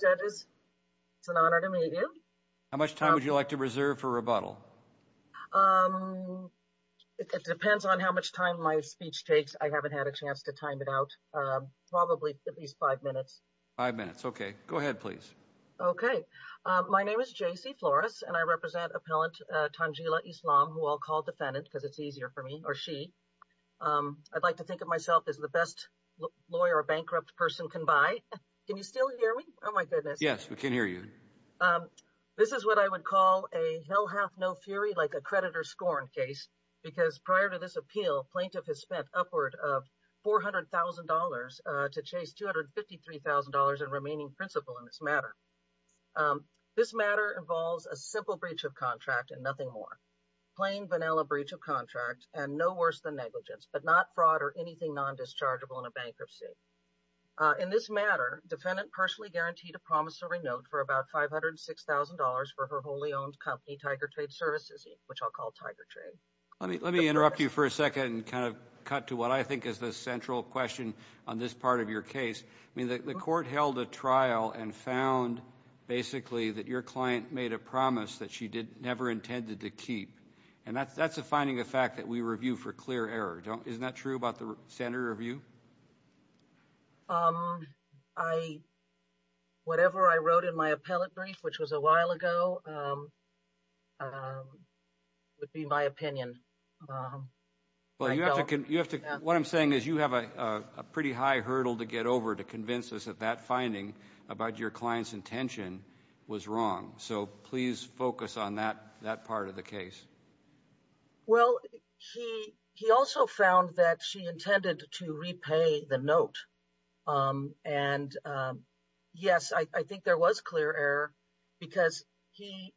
Judges, it's an honor to meet you. How much time would you like to reserve for rebuttal? Um, it depends on how much time my speech takes. I haven't had a chance to time it out. Um, probably at least five minutes. Five minutes. Okay. Go ahead, please. Okay. Um, my name is J.C. Flores and I represent appellant Tanjila Islam, who I'll call defendant because it's easier for me, or she. Um, I'd like to think of myself as the best lawyer a bankrupt person can buy. Can you still hear me? Oh my goodness. Yes, we can hear you. Um, this is what I would call a hell half no fury, like a creditor scorn case, because prior to this appeal, plaintiff has spent upward of $400,000, uh, to chase $253,000 in remaining principal in this matter. Um, this matter involves a simple breach of contract and nothing more. Plain, fraud or anything non-dischargeable in a bankruptcy. Uh, in this matter, defendant personally guaranteed a promissory note for about $506,000 for her wholly owned company, Tiger Trade Services, which I'll call Tiger Trade. Let me, let me interrupt you for a second and kind of cut to what I think is the central question on this part of your case. I mean, the court held a trial and found basically that your client made a promise that she did never intended to keep. And that's, that's a finding of fact that we review for clear error. Don't, isn't that true about the standard review? Um, I, whatever I wrote in my appellate brief, which was a while ago, um, um, would be my opinion. Well, you have to, you have to, what I'm saying is you have a, a pretty high hurdle to get over to convince us that that finding about your client's intention was wrong. So please focus on that, that part of the case. Well, he, he also found that she intended to repay the note. Um, and, um, yes, I, I think there was clear error because he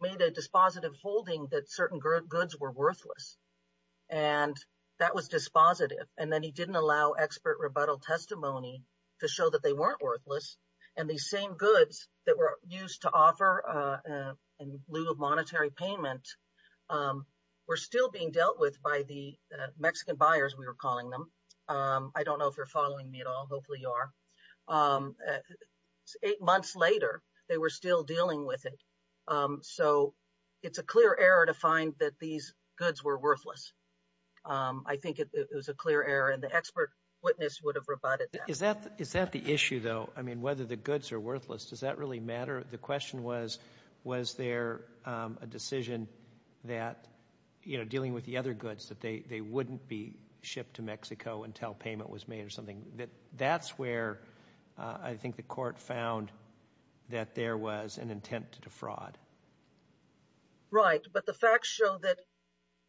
made a dispositive holding that certain goods were worthless and that was dispositive. And then he didn't allow expert rebuttal testimony to show that they weren't worthless. And these same goods that were used to offer, uh, uh, in lieu of monetary payment, um, were still being dealt with by the Mexican buyers. We were calling them. Um, I don't know if you're following me at all. Hopefully you are. Um, eight months later, they were still dealing with it. Um, so it's a clear error to find that these goods were worthless. Um, I think it was a clear error and the expert witness would have rebutted that. Is that, is that the issue though? I mean, whether the goods are worthless, does that really matter? The question was, was there, um, a decision that, you know, dealing with the other goods that they, they wouldn't be shipped to Mexico until payment was made or something that that's where, uh, I think the court found that there was an intent to defraud. Right. But the facts show that,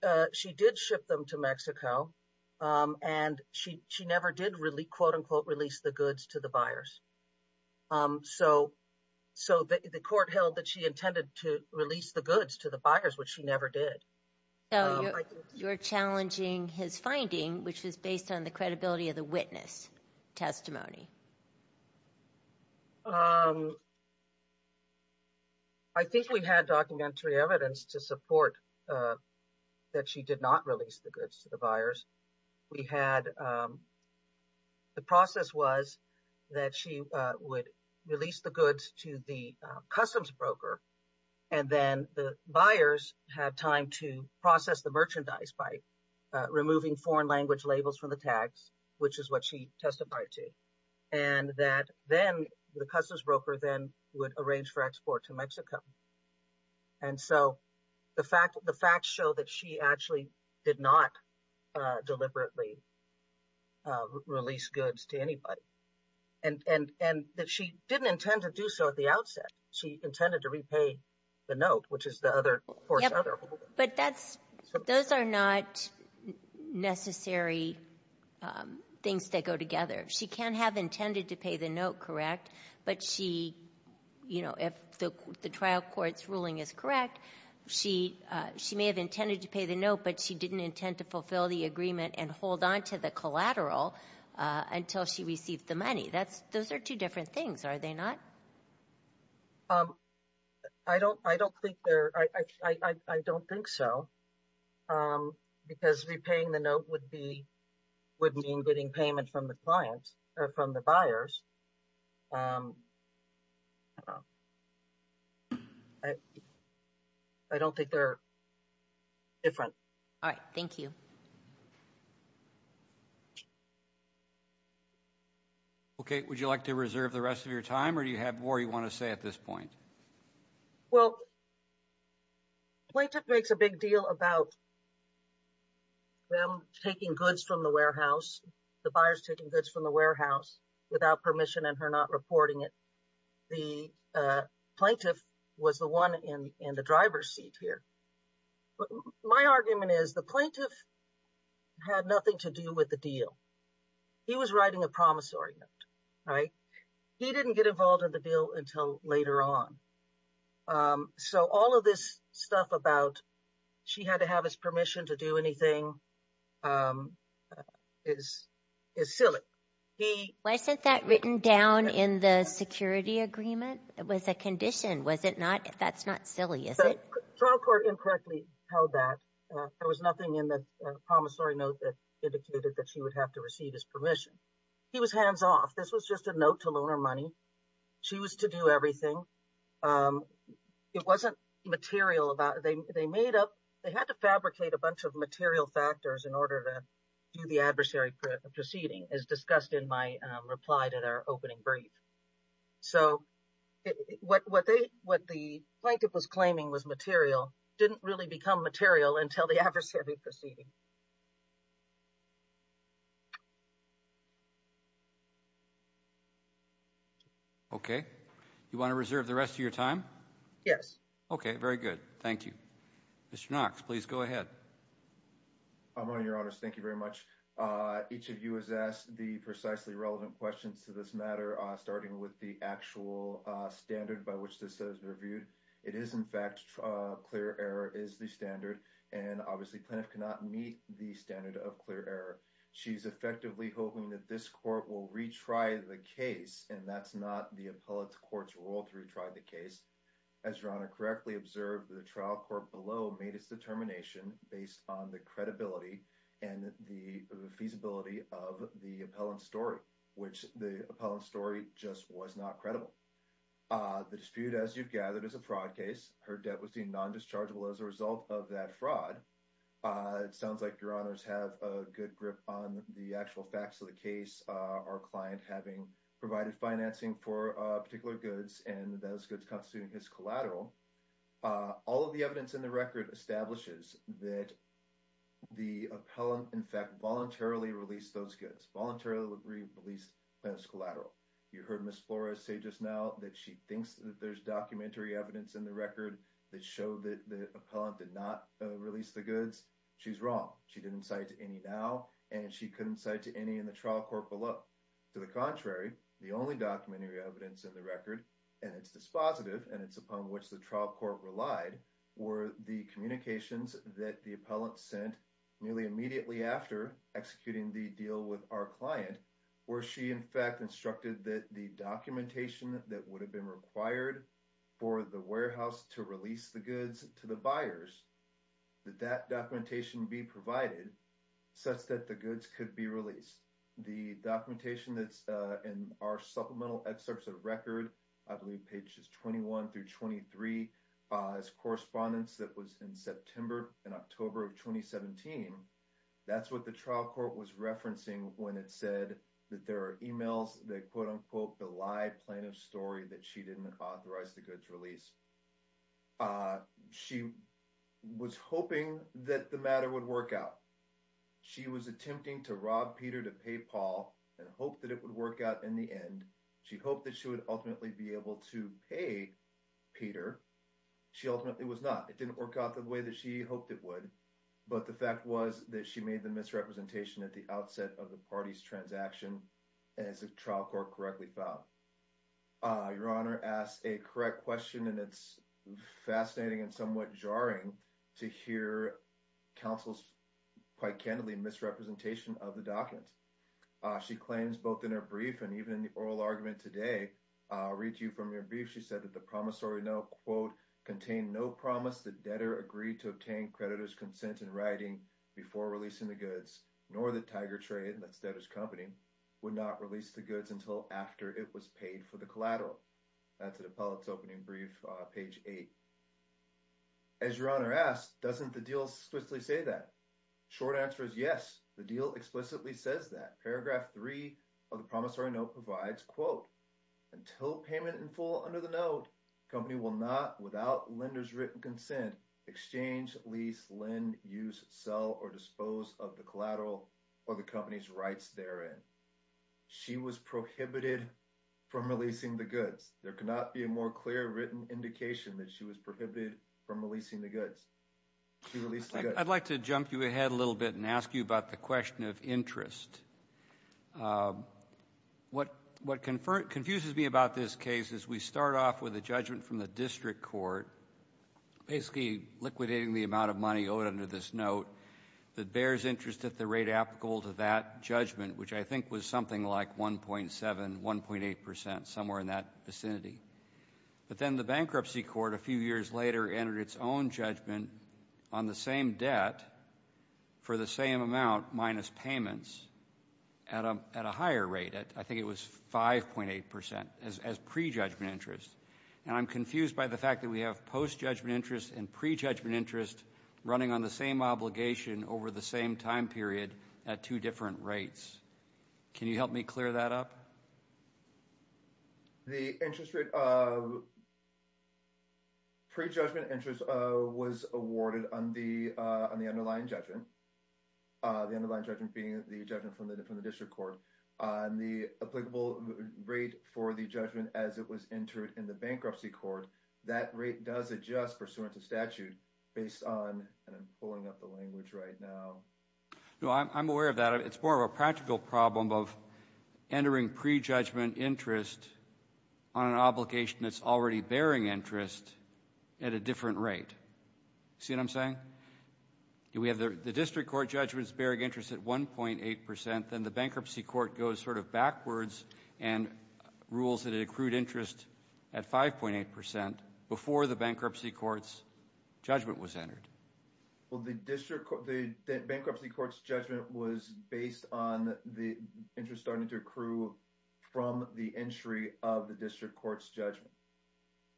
uh, she did ship them to Mexico. Um, and she, she never did really release the goods to the buyers. Um, so, so the court held that she intended to release the goods to the buyers, which she never did. You're challenging his finding, which was based on the credibility of the witness testimony. Um, I think we had documentary evidence to support, uh, that she did not release the goods to the buyers. We had, um, the process was that she, uh, would release the goods to the, uh, customs broker. And then the buyers had time to process the merchandise by, uh, removing foreign language labels from the tags, which is what she testified to. And that then the customs broker then would arrange for export to Mexico. And so the fact show that she actually did not, uh, deliberately, uh, release goods to anybody. And, and, and that she didn't intend to do so at the outset. She intended to repay the note, which is the other court. But that's, those are not necessary, um, things that go together. She can have intended to pay the note, correct. But she, you know, if the, the trial court's ruling is correct, she, uh, she may have intended to pay the note, but she didn't intend to fulfill the agreement and hold on to the collateral, uh, until she received the money. That's, those are two different things, are they not? Um, I don't, I don't think they're, I, I, I, I don't think so. Um, because repaying the note would be, would mean getting payment from the clients or from the buyers. Um, I, I don't think they're different. All right. Thank you. Okay. Would you like to reserve the rest of your time or do you have more you want to say at this point? Well, plaintiff makes a big deal about them taking goods from the warehouse, the buyers taking goods from the warehouse without permission and her not reporting it. The, uh, plaintiff was the one in, in the driver's seat here. But my argument is the plaintiff had nothing to do with the deal. He was writing a promise argument, right? He didn't get involved in the deal until later on. Um, so all of this stuff about she had to have his permission to do anything, um, is, is silly. He... Wasn't that written down in the security agreement? It was a condition, was it not? That's not silly, is it? The trial court incorrectly held that. There was nothing in the promissory note that indicated that she would have to receive his permission. He was hands off. This was just a note to loan her money. She was to do everything. Um, it wasn't material about, they, they made up, they had to fabricate a bunch of material factors in order to do the adversary proceeding as discussed in my reply to their opening brief. So what, what they, what the plaintiff was claiming was material didn't really become material until the adversary proceeding. Okay. You want to reserve the rest of your time? Yes. Okay. Very good. Thank you. Mr. Knox, please go ahead. I'm on your honors. Thank you very much. Uh, each of you has asked the precisely relevant questions to this matter, uh, starting with the actual, uh, standard by which this has reviewed. It is in fact, uh, clear error is the standard. And obviously plaintiff cannot meet the standard of clear error. She's effectively hoping that this court will retry the case. And that's not the appellate court's role to retry the case. As your honor correctly observed, the trial court below made its determination based on the credibility and the feasibility of the appellant story, which the appellant story just was not credible. Uh, the dispute as you've gathered is a fraud case. Her debt was seen non-dischargeable as a result of that fraud. Uh, it sounds like your honors have a good grip on the actual facts of the case. Uh, our client having provided financing for a particular goods and those goods constitute his collateral. Uh, all of the evidence in the record establishes that the appellant, in fact, voluntarily released those goods voluntarily released as collateral. You heard Ms. Flores say just now that she thinks that there's documentary evidence in the record that showed that the appellant did not release the goods. She's wrong. She didn't say to any now, and she couldn't say to any in the trial court below to the contrary, the only documentary evidence in the record and it's dispositive and it's upon which the trial court relied or the communications that the appellant sent nearly immediately after executing the deal with our client, where she in fact instructed that the documentation that would have been required for the warehouse to release the goods to the buyers, that that documentation be provided such that the goods could be released. The documentation that's, uh, in our supplemental excerpts of record, I believe pages 21 through 23, uh, is correspondence that was in September and October of 2017. That's what the trial court was referencing when it said that there are emails that quote unquote, the lie plaintiff story that she didn't authorize the goods release. Uh, she was hoping that the matter would work out. She was attempting to rob Peter to pay Paul and hope that it would work out in the end. She hoped that she would ultimately be able to Peter. She ultimately was not, it didn't work out the way that she hoped it would, but the fact was that she made the misrepresentation at the outset of the party's transaction as a trial court correctly filed. Uh, your honor asked a correct question and it's fascinating and somewhat jarring to hear counsel's quite candidly misrepresentation of the document. Uh, she claims both in her brief and even in the oral argument today, I'll read you from your brief. She said that the promissory note quote, contained no promise that debtor agreed to obtain creditor's consent in writing before releasing the goods nor the tiger trade. And that's that his company would not release the goods until after it was paid for the collateral. That's an appellate's opening brief page eight as your honor asked, doesn't the deal explicitly say that short answer is yes, the deal explicitly says that paragraph three of the promissory note provides quote, until payment in full under the note, company will not without lender's written consent, exchange, lease, lend, use, sell, or dispose of the collateral or the company's rights therein. She was prohibited from releasing the goods. There could not be a more clear written indication that she was prohibited from releasing the goods. She released the goods. I'd like to jump you ahead a little bit and ask you about the question of interest. What confuses me about this case is we start off with a judgment from the district court, basically liquidating the amount of money owed under this note that bears interest at the rate applicable to that judgment, which I think was something like 1.7, 1.8%, somewhere in that vicinity. But then the bankruptcy court, a few years later, entered its own judgment on the same debt for the same amount minus payments at a higher rate. I think it was 5.8% as pre-judgment interest. And I'm confused by the fact that we have post-judgment interest and pre-judgment interest running on the same obligation over the same time period at two different rates. Can you help me clear that up? The interest rate of pre-judgment interest was awarded on the underlying judgment, the underlying judgment being the judgment from the district court. On the applicable rate for the judgment as it was entered in the bankruptcy court, that rate does adjust pursuant to statute based on, and I'm pulling up the language right now. No, I'm aware of that. It's more of a practical problem of entering pre-judgment interest on an obligation that's already bearing interest at a different rate. See what I'm saying? We have the district court judgments bearing interest at 1.8%, then the bankruptcy court goes sort of backwards and rules that it accrued interest at 5.8% before the bankruptcy court's judgment was entered. Well, the bankruptcy court's judgment was based on the interest starting to accrue from the entry of the district court's judgment.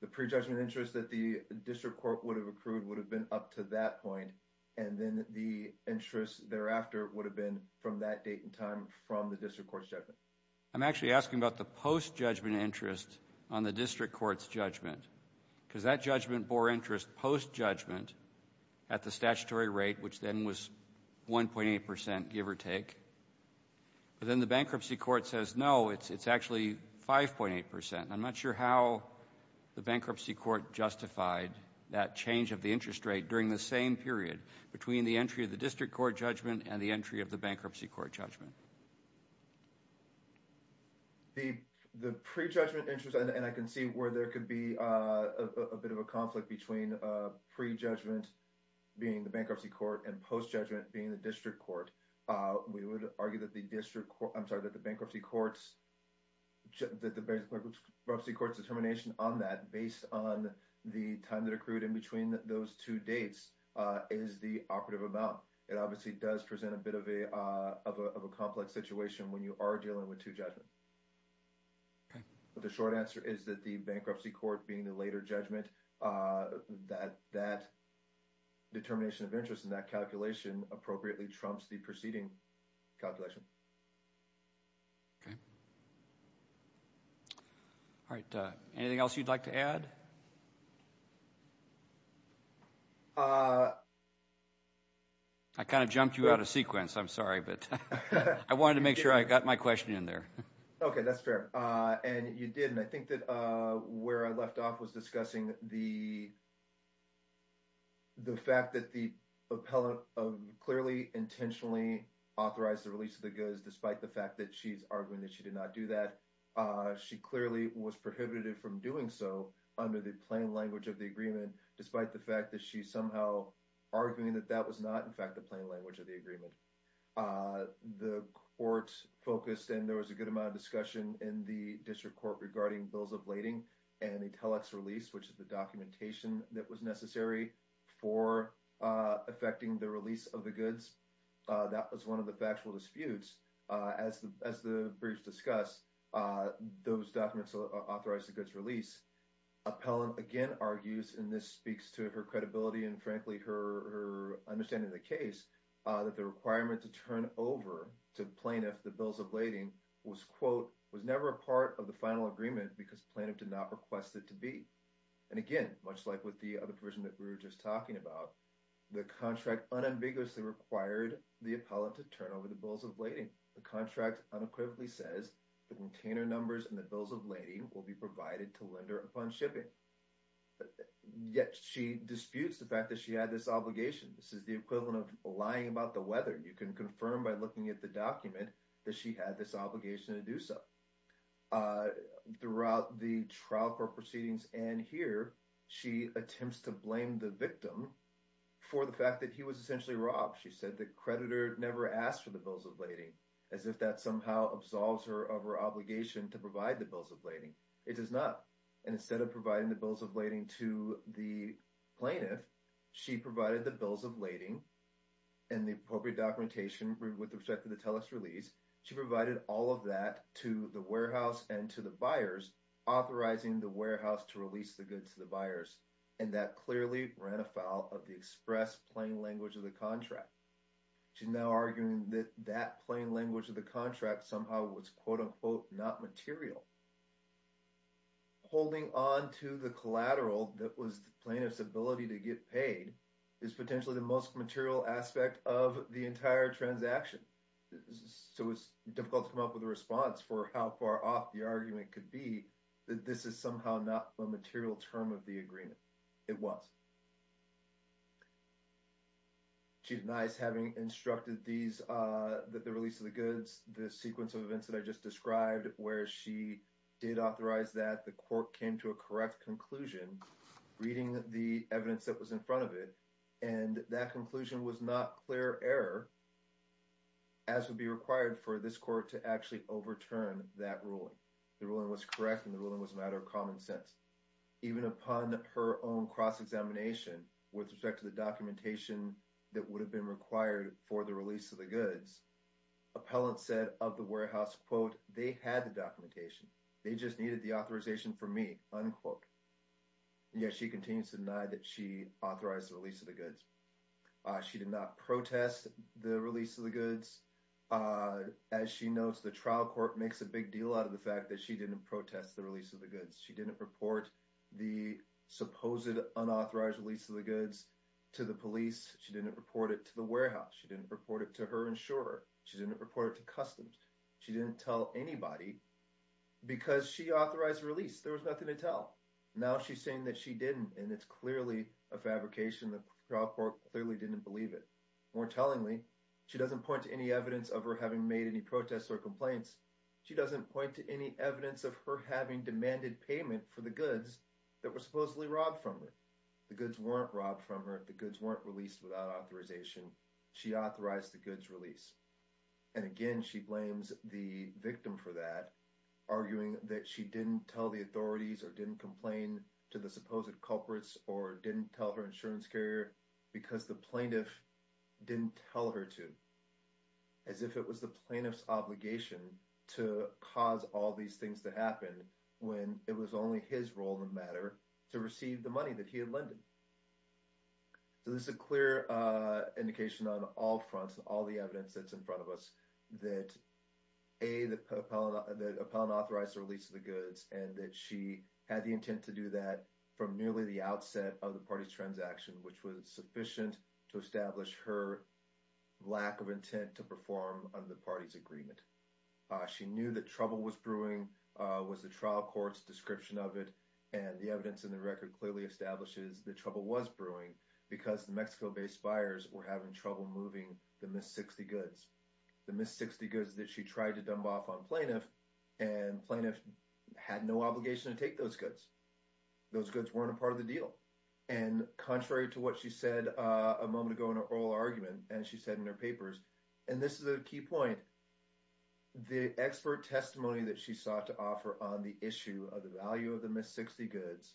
The pre-judgment interest that the district court would have accrued would have been up to that point, and then the interest thereafter would have been from that date and time from the district court's judgment. I'm actually asking about the post-judgment interest on the district court's judgment, because that judgment bore interest post-judgment at the statutory rate, which then was 1.8%, give or take, but then the bankruptcy court says, no, it's actually 5.8%. I'm not sure how the bankruptcy court justified that change of the interest rate during the same period between the entry of the district court judgment and the entry of the bankruptcy court judgment. The pre-judgment interest, and I can see where there could be a bit of a conflict between pre-judgment being the bankruptcy court and post-judgment being the district court. We would argue that the bankruptcy court's determination on that, based on the time that accrued in between those two dates, is the operative amount. It obviously does present a bit of a complex situation when you are dealing with two judgments. But the short answer is that the bankruptcy court being the later judgment, that determination of interest in that calculation appropriately trumps the preceding calculation. Okay. All right. Anything else you'd like to add? I kind of jumped you out of sequence. I'm sorry, but I wanted to make sure I got my question in Okay, that's fair. And you did. And I think that where I left off was discussing the fact that the appellate clearly intentionally authorized the release of the goods, despite the fact that she's arguing that she did not do that. She clearly was prohibited from doing so under the plain language of the agreement, despite the fact that she's somehow arguing that that was not, in The court focused, and there was a good amount of discussion in the district court regarding bills of lading and a telex release, which is the documentation that was necessary for affecting the release of the goods. That was one of the factual disputes. As the briefs discuss, those documents authorized the goods release. Appellant, again, argues, and this speaks to her credibility and, frankly, her understanding of the case, that the requirement to turn over to plaintiff the bills of lading was, quote, was never a part of the final agreement because plaintiff did not request it to be. And again, much like with the other provision that we were just talking about, the contract unambiguously required the appellant to turn over the bills of lading. The contract unequivocally says the container numbers and the bills of lading will be provided to lender upon shipping. Yet she disputes the fact that she had this obligation. This is the equivalent of lying about the weather. You can confirm by looking at the document that she had this obligation to do so. Throughout the trial court proceedings and here, she attempts to blame the victim for the fact that he was essentially robbed. She said the creditor never asked for the bills of lading, as if that somehow absolves her of her obligation to provide the bills of lading. It does not. And instead of providing the bills of lading to the plaintiff, she provided the bills of lading and the appropriate documentation with respect to the Telus release. She provided all of that to the warehouse and to the buyers, authorizing the warehouse to release the goods to the buyers. And that clearly ran afoul of the express plain language of the contract. She's now arguing that that plain language of the contract somehow was, quote-unquote, not material. Holding on to the collateral that was the plaintiff's ability to get paid is potentially the most material aspect of the entire transaction. So it's difficult to come up with a response for how far off the argument could be that this is somehow not a material term of the agreement. It was. She denies having instructed that the release of the goods, the sequence of events that I just described, where she did authorize that the court came to a correct conclusion, reading the evidence that was in front of it, and that conclusion was not clear error, as would be required for this court to actually overturn that ruling. The ruling was correct and the ruling was a matter of common sense. Even upon her own cross-examination with respect to the documentation that would have been required for the release of the goods, appellant said of the warehouse, quote, they had the documentation. They just needed the authorization from me, unquote. Yet she continues to deny that she authorized the release of the goods. She did not protest the release of the goods. As she notes, the trial court makes a big deal out of the fact that she didn't protest the release of the goods. She didn't report the supposed unauthorized release of the goods to the police. She didn't report it to the police. She didn't report it to customs. She didn't tell anybody because she authorized the release. There was nothing to tell. Now she's saying that she didn't, and it's clearly a fabrication. The trial court clearly didn't believe it. More tellingly, she doesn't point to any evidence of her having made any protests or complaints. She doesn't point to any evidence of her having demanded payment for the goods that were supposedly robbed from her. The goods weren't robbed from her. The goods weren't released without authorization. She authorized the goods release. And again, she blames the victim for that, arguing that she didn't tell the authorities or didn't complain to the supposed culprits or didn't tell her insurance carrier because the plaintiff didn't tell her to, as if it was the plaintiff's obligation to cause all these things to happen when it was only his role in the matter to receive the money that he had lended. So this is a clear indication on all fronts, all the evidence that's in front of us, that A, that Appellant authorized the release of the goods and that she had the intent to do that from nearly the outset of the party's transaction, which was sufficient to establish her lack of intent to perform under the party's agreement. She knew that trouble was brewing, was the trial description of it, and the evidence in the record clearly establishes that trouble was brewing because the Mexico-based buyers were having trouble moving the missed 60 goods. The missed 60 goods that she tried to dump off on plaintiff, and plaintiff had no obligation to take those goods. Those goods weren't a part of the deal. And contrary to what she said a moment ago in her oral argument, and she said in her papers, and this is a key point, the expert testimony that she sought to offer on the issue of the value of the missed 60 goods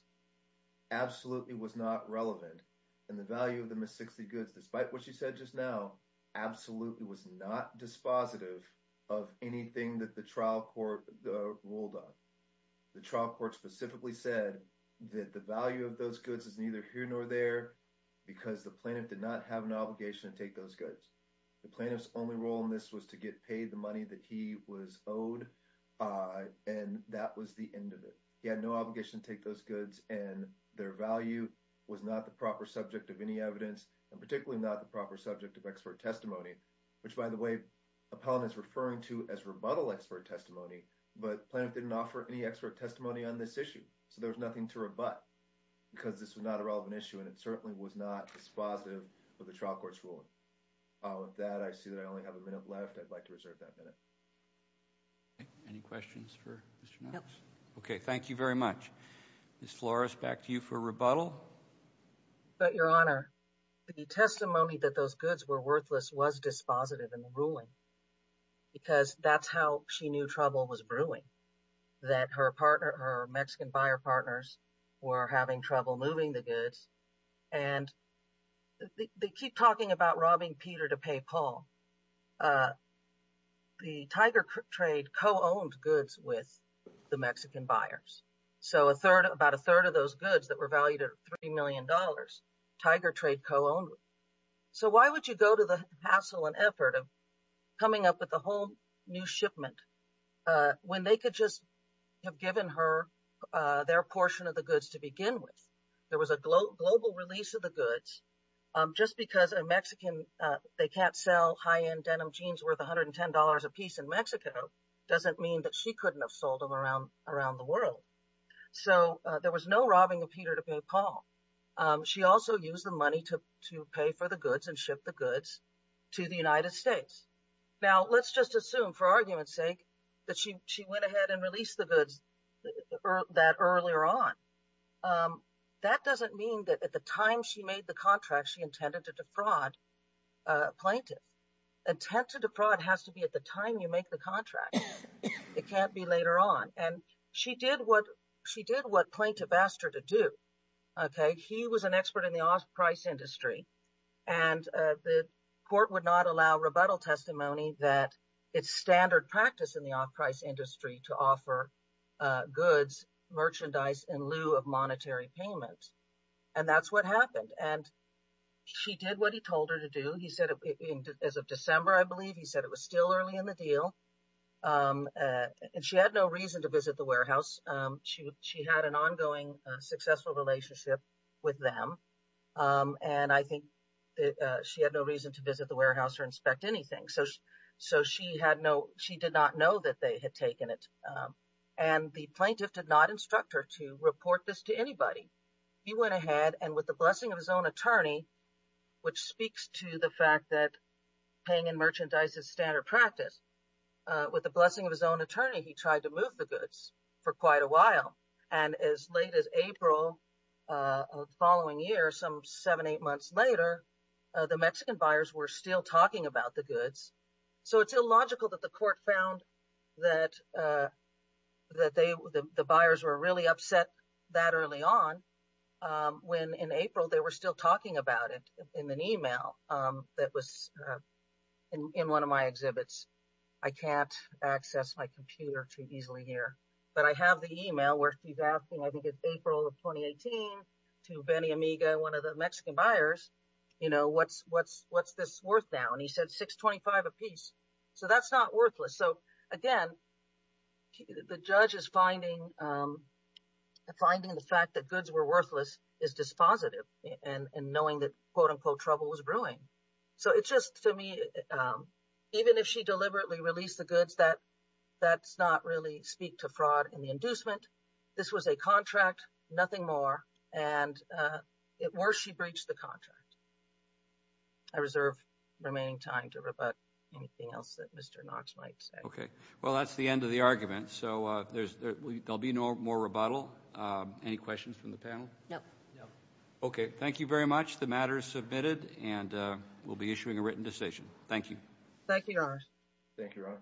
absolutely was not relevant. And the value of the missed 60 goods, despite what she said just now, absolutely was not dispositive of anything that the trial court ruled on. The trial court specifically said that the value of those goods is neither here nor there because the plaintiff did not have an obligation to take those goods. The plaintiff's only role in this was to get paid the money that was owed, and that was the end of it. He had no obligation to take those goods and their value was not the proper subject of any evidence and particularly not the proper subject of expert testimony, which by the way, Appellant is referring to as rebuttal expert testimony, but plaintiff didn't offer any expert testimony on this issue. So there was nothing to rebut because this was not a relevant issue and it certainly was not dispositive of the trial court's ruling. With that, I see that I only have a minute left. I'd like to reserve that minute. Okay, any questions for Mr. Nelson? Okay, thank you very much. Ms. Flores, back to you for rebuttal. But your honor, the testimony that those goods were worthless was dispositive in the ruling because that's how she knew trouble was brewing. That her partner, her Mexican buyer partners, were having trouble moving the goods and they keep talking about robbing Peter to pay Paul. The Tiger Trade co-owned goods with the Mexican buyers, so about a third of those goods that were valued at three million dollars, Tiger Trade co-owned. So why would you go to the hassle and effort of coming up with a whole new shipment when they could just have given her their portion of the goods to begin with? There was a global release of the goods just because a Mexican, they can't sell high-end denim jeans worth $110 a piece in Mexico doesn't mean that she couldn't have sold them around the world. So there was no robbing of Peter to pay Paul. She also used the money to pay for the goods and ship the goods to the United States. Now let's just assume for argument's sake that she went ahead and released the goods that earlier on. That doesn't mean that the time she made the contract she intended to defraud plaintiff. Intent to defraud has to be at the time you make the contract. It can't be later on and she did what plaintiff asked her to do. He was an expert in the off-price industry and the court would not allow rebuttal testimony that it's standard practice in the off-price industry to offer goods, merchandise in lieu of monetary payment. And that's what happened. And she did what he told her to do. He said as of December, I believe he said it was still early in the deal. And she had no reason to visit the warehouse. She had an ongoing successful relationship with them. And I think that she had no reason to visit the warehouse or inspect anything. So she did not know that they had taken it. And the plaintiff did not instruct her to report this to anybody. He went ahead and with the blessing of his own attorney, which speaks to the fact that paying in merchandise is standard practice. With the blessing of his own attorney, he tried to move the goods for quite a while. And as late as April of the following year, some seven, eight months later, the Mexican buyers were still talking about the goods. So it's illogical that the court found that the buyers were really upset that early on when in April, they were still talking about it in an email that was in one of my exhibits. I can't access my computer too easily here, but I have the email where she's asking, I think it's April of 2018 to Benny Amiga, one of the Mexican buyers, what's this worth now? And he said $625 a piece. So that's not worthless. So again, the judge is finding the fact that goods were worthless is dispositive and knowing that, quote unquote, trouble was brewing. So it's just to me, even if she deliberately released the goods, that's not really speak to fraud and the inducement. This was a contract, nothing more. And worse, she breached the contract. I reserve remaining time to rebut anything else that Mr. Knox might say. Okay. Well, that's the end of the argument. So there'll be no more rebuttal. Any questions from the panel? No. Okay. Thank you very much. The matter is submitted and we'll be issuing a written decision. Thank you. Thank you, Your Honor. Thank you, Your Honor.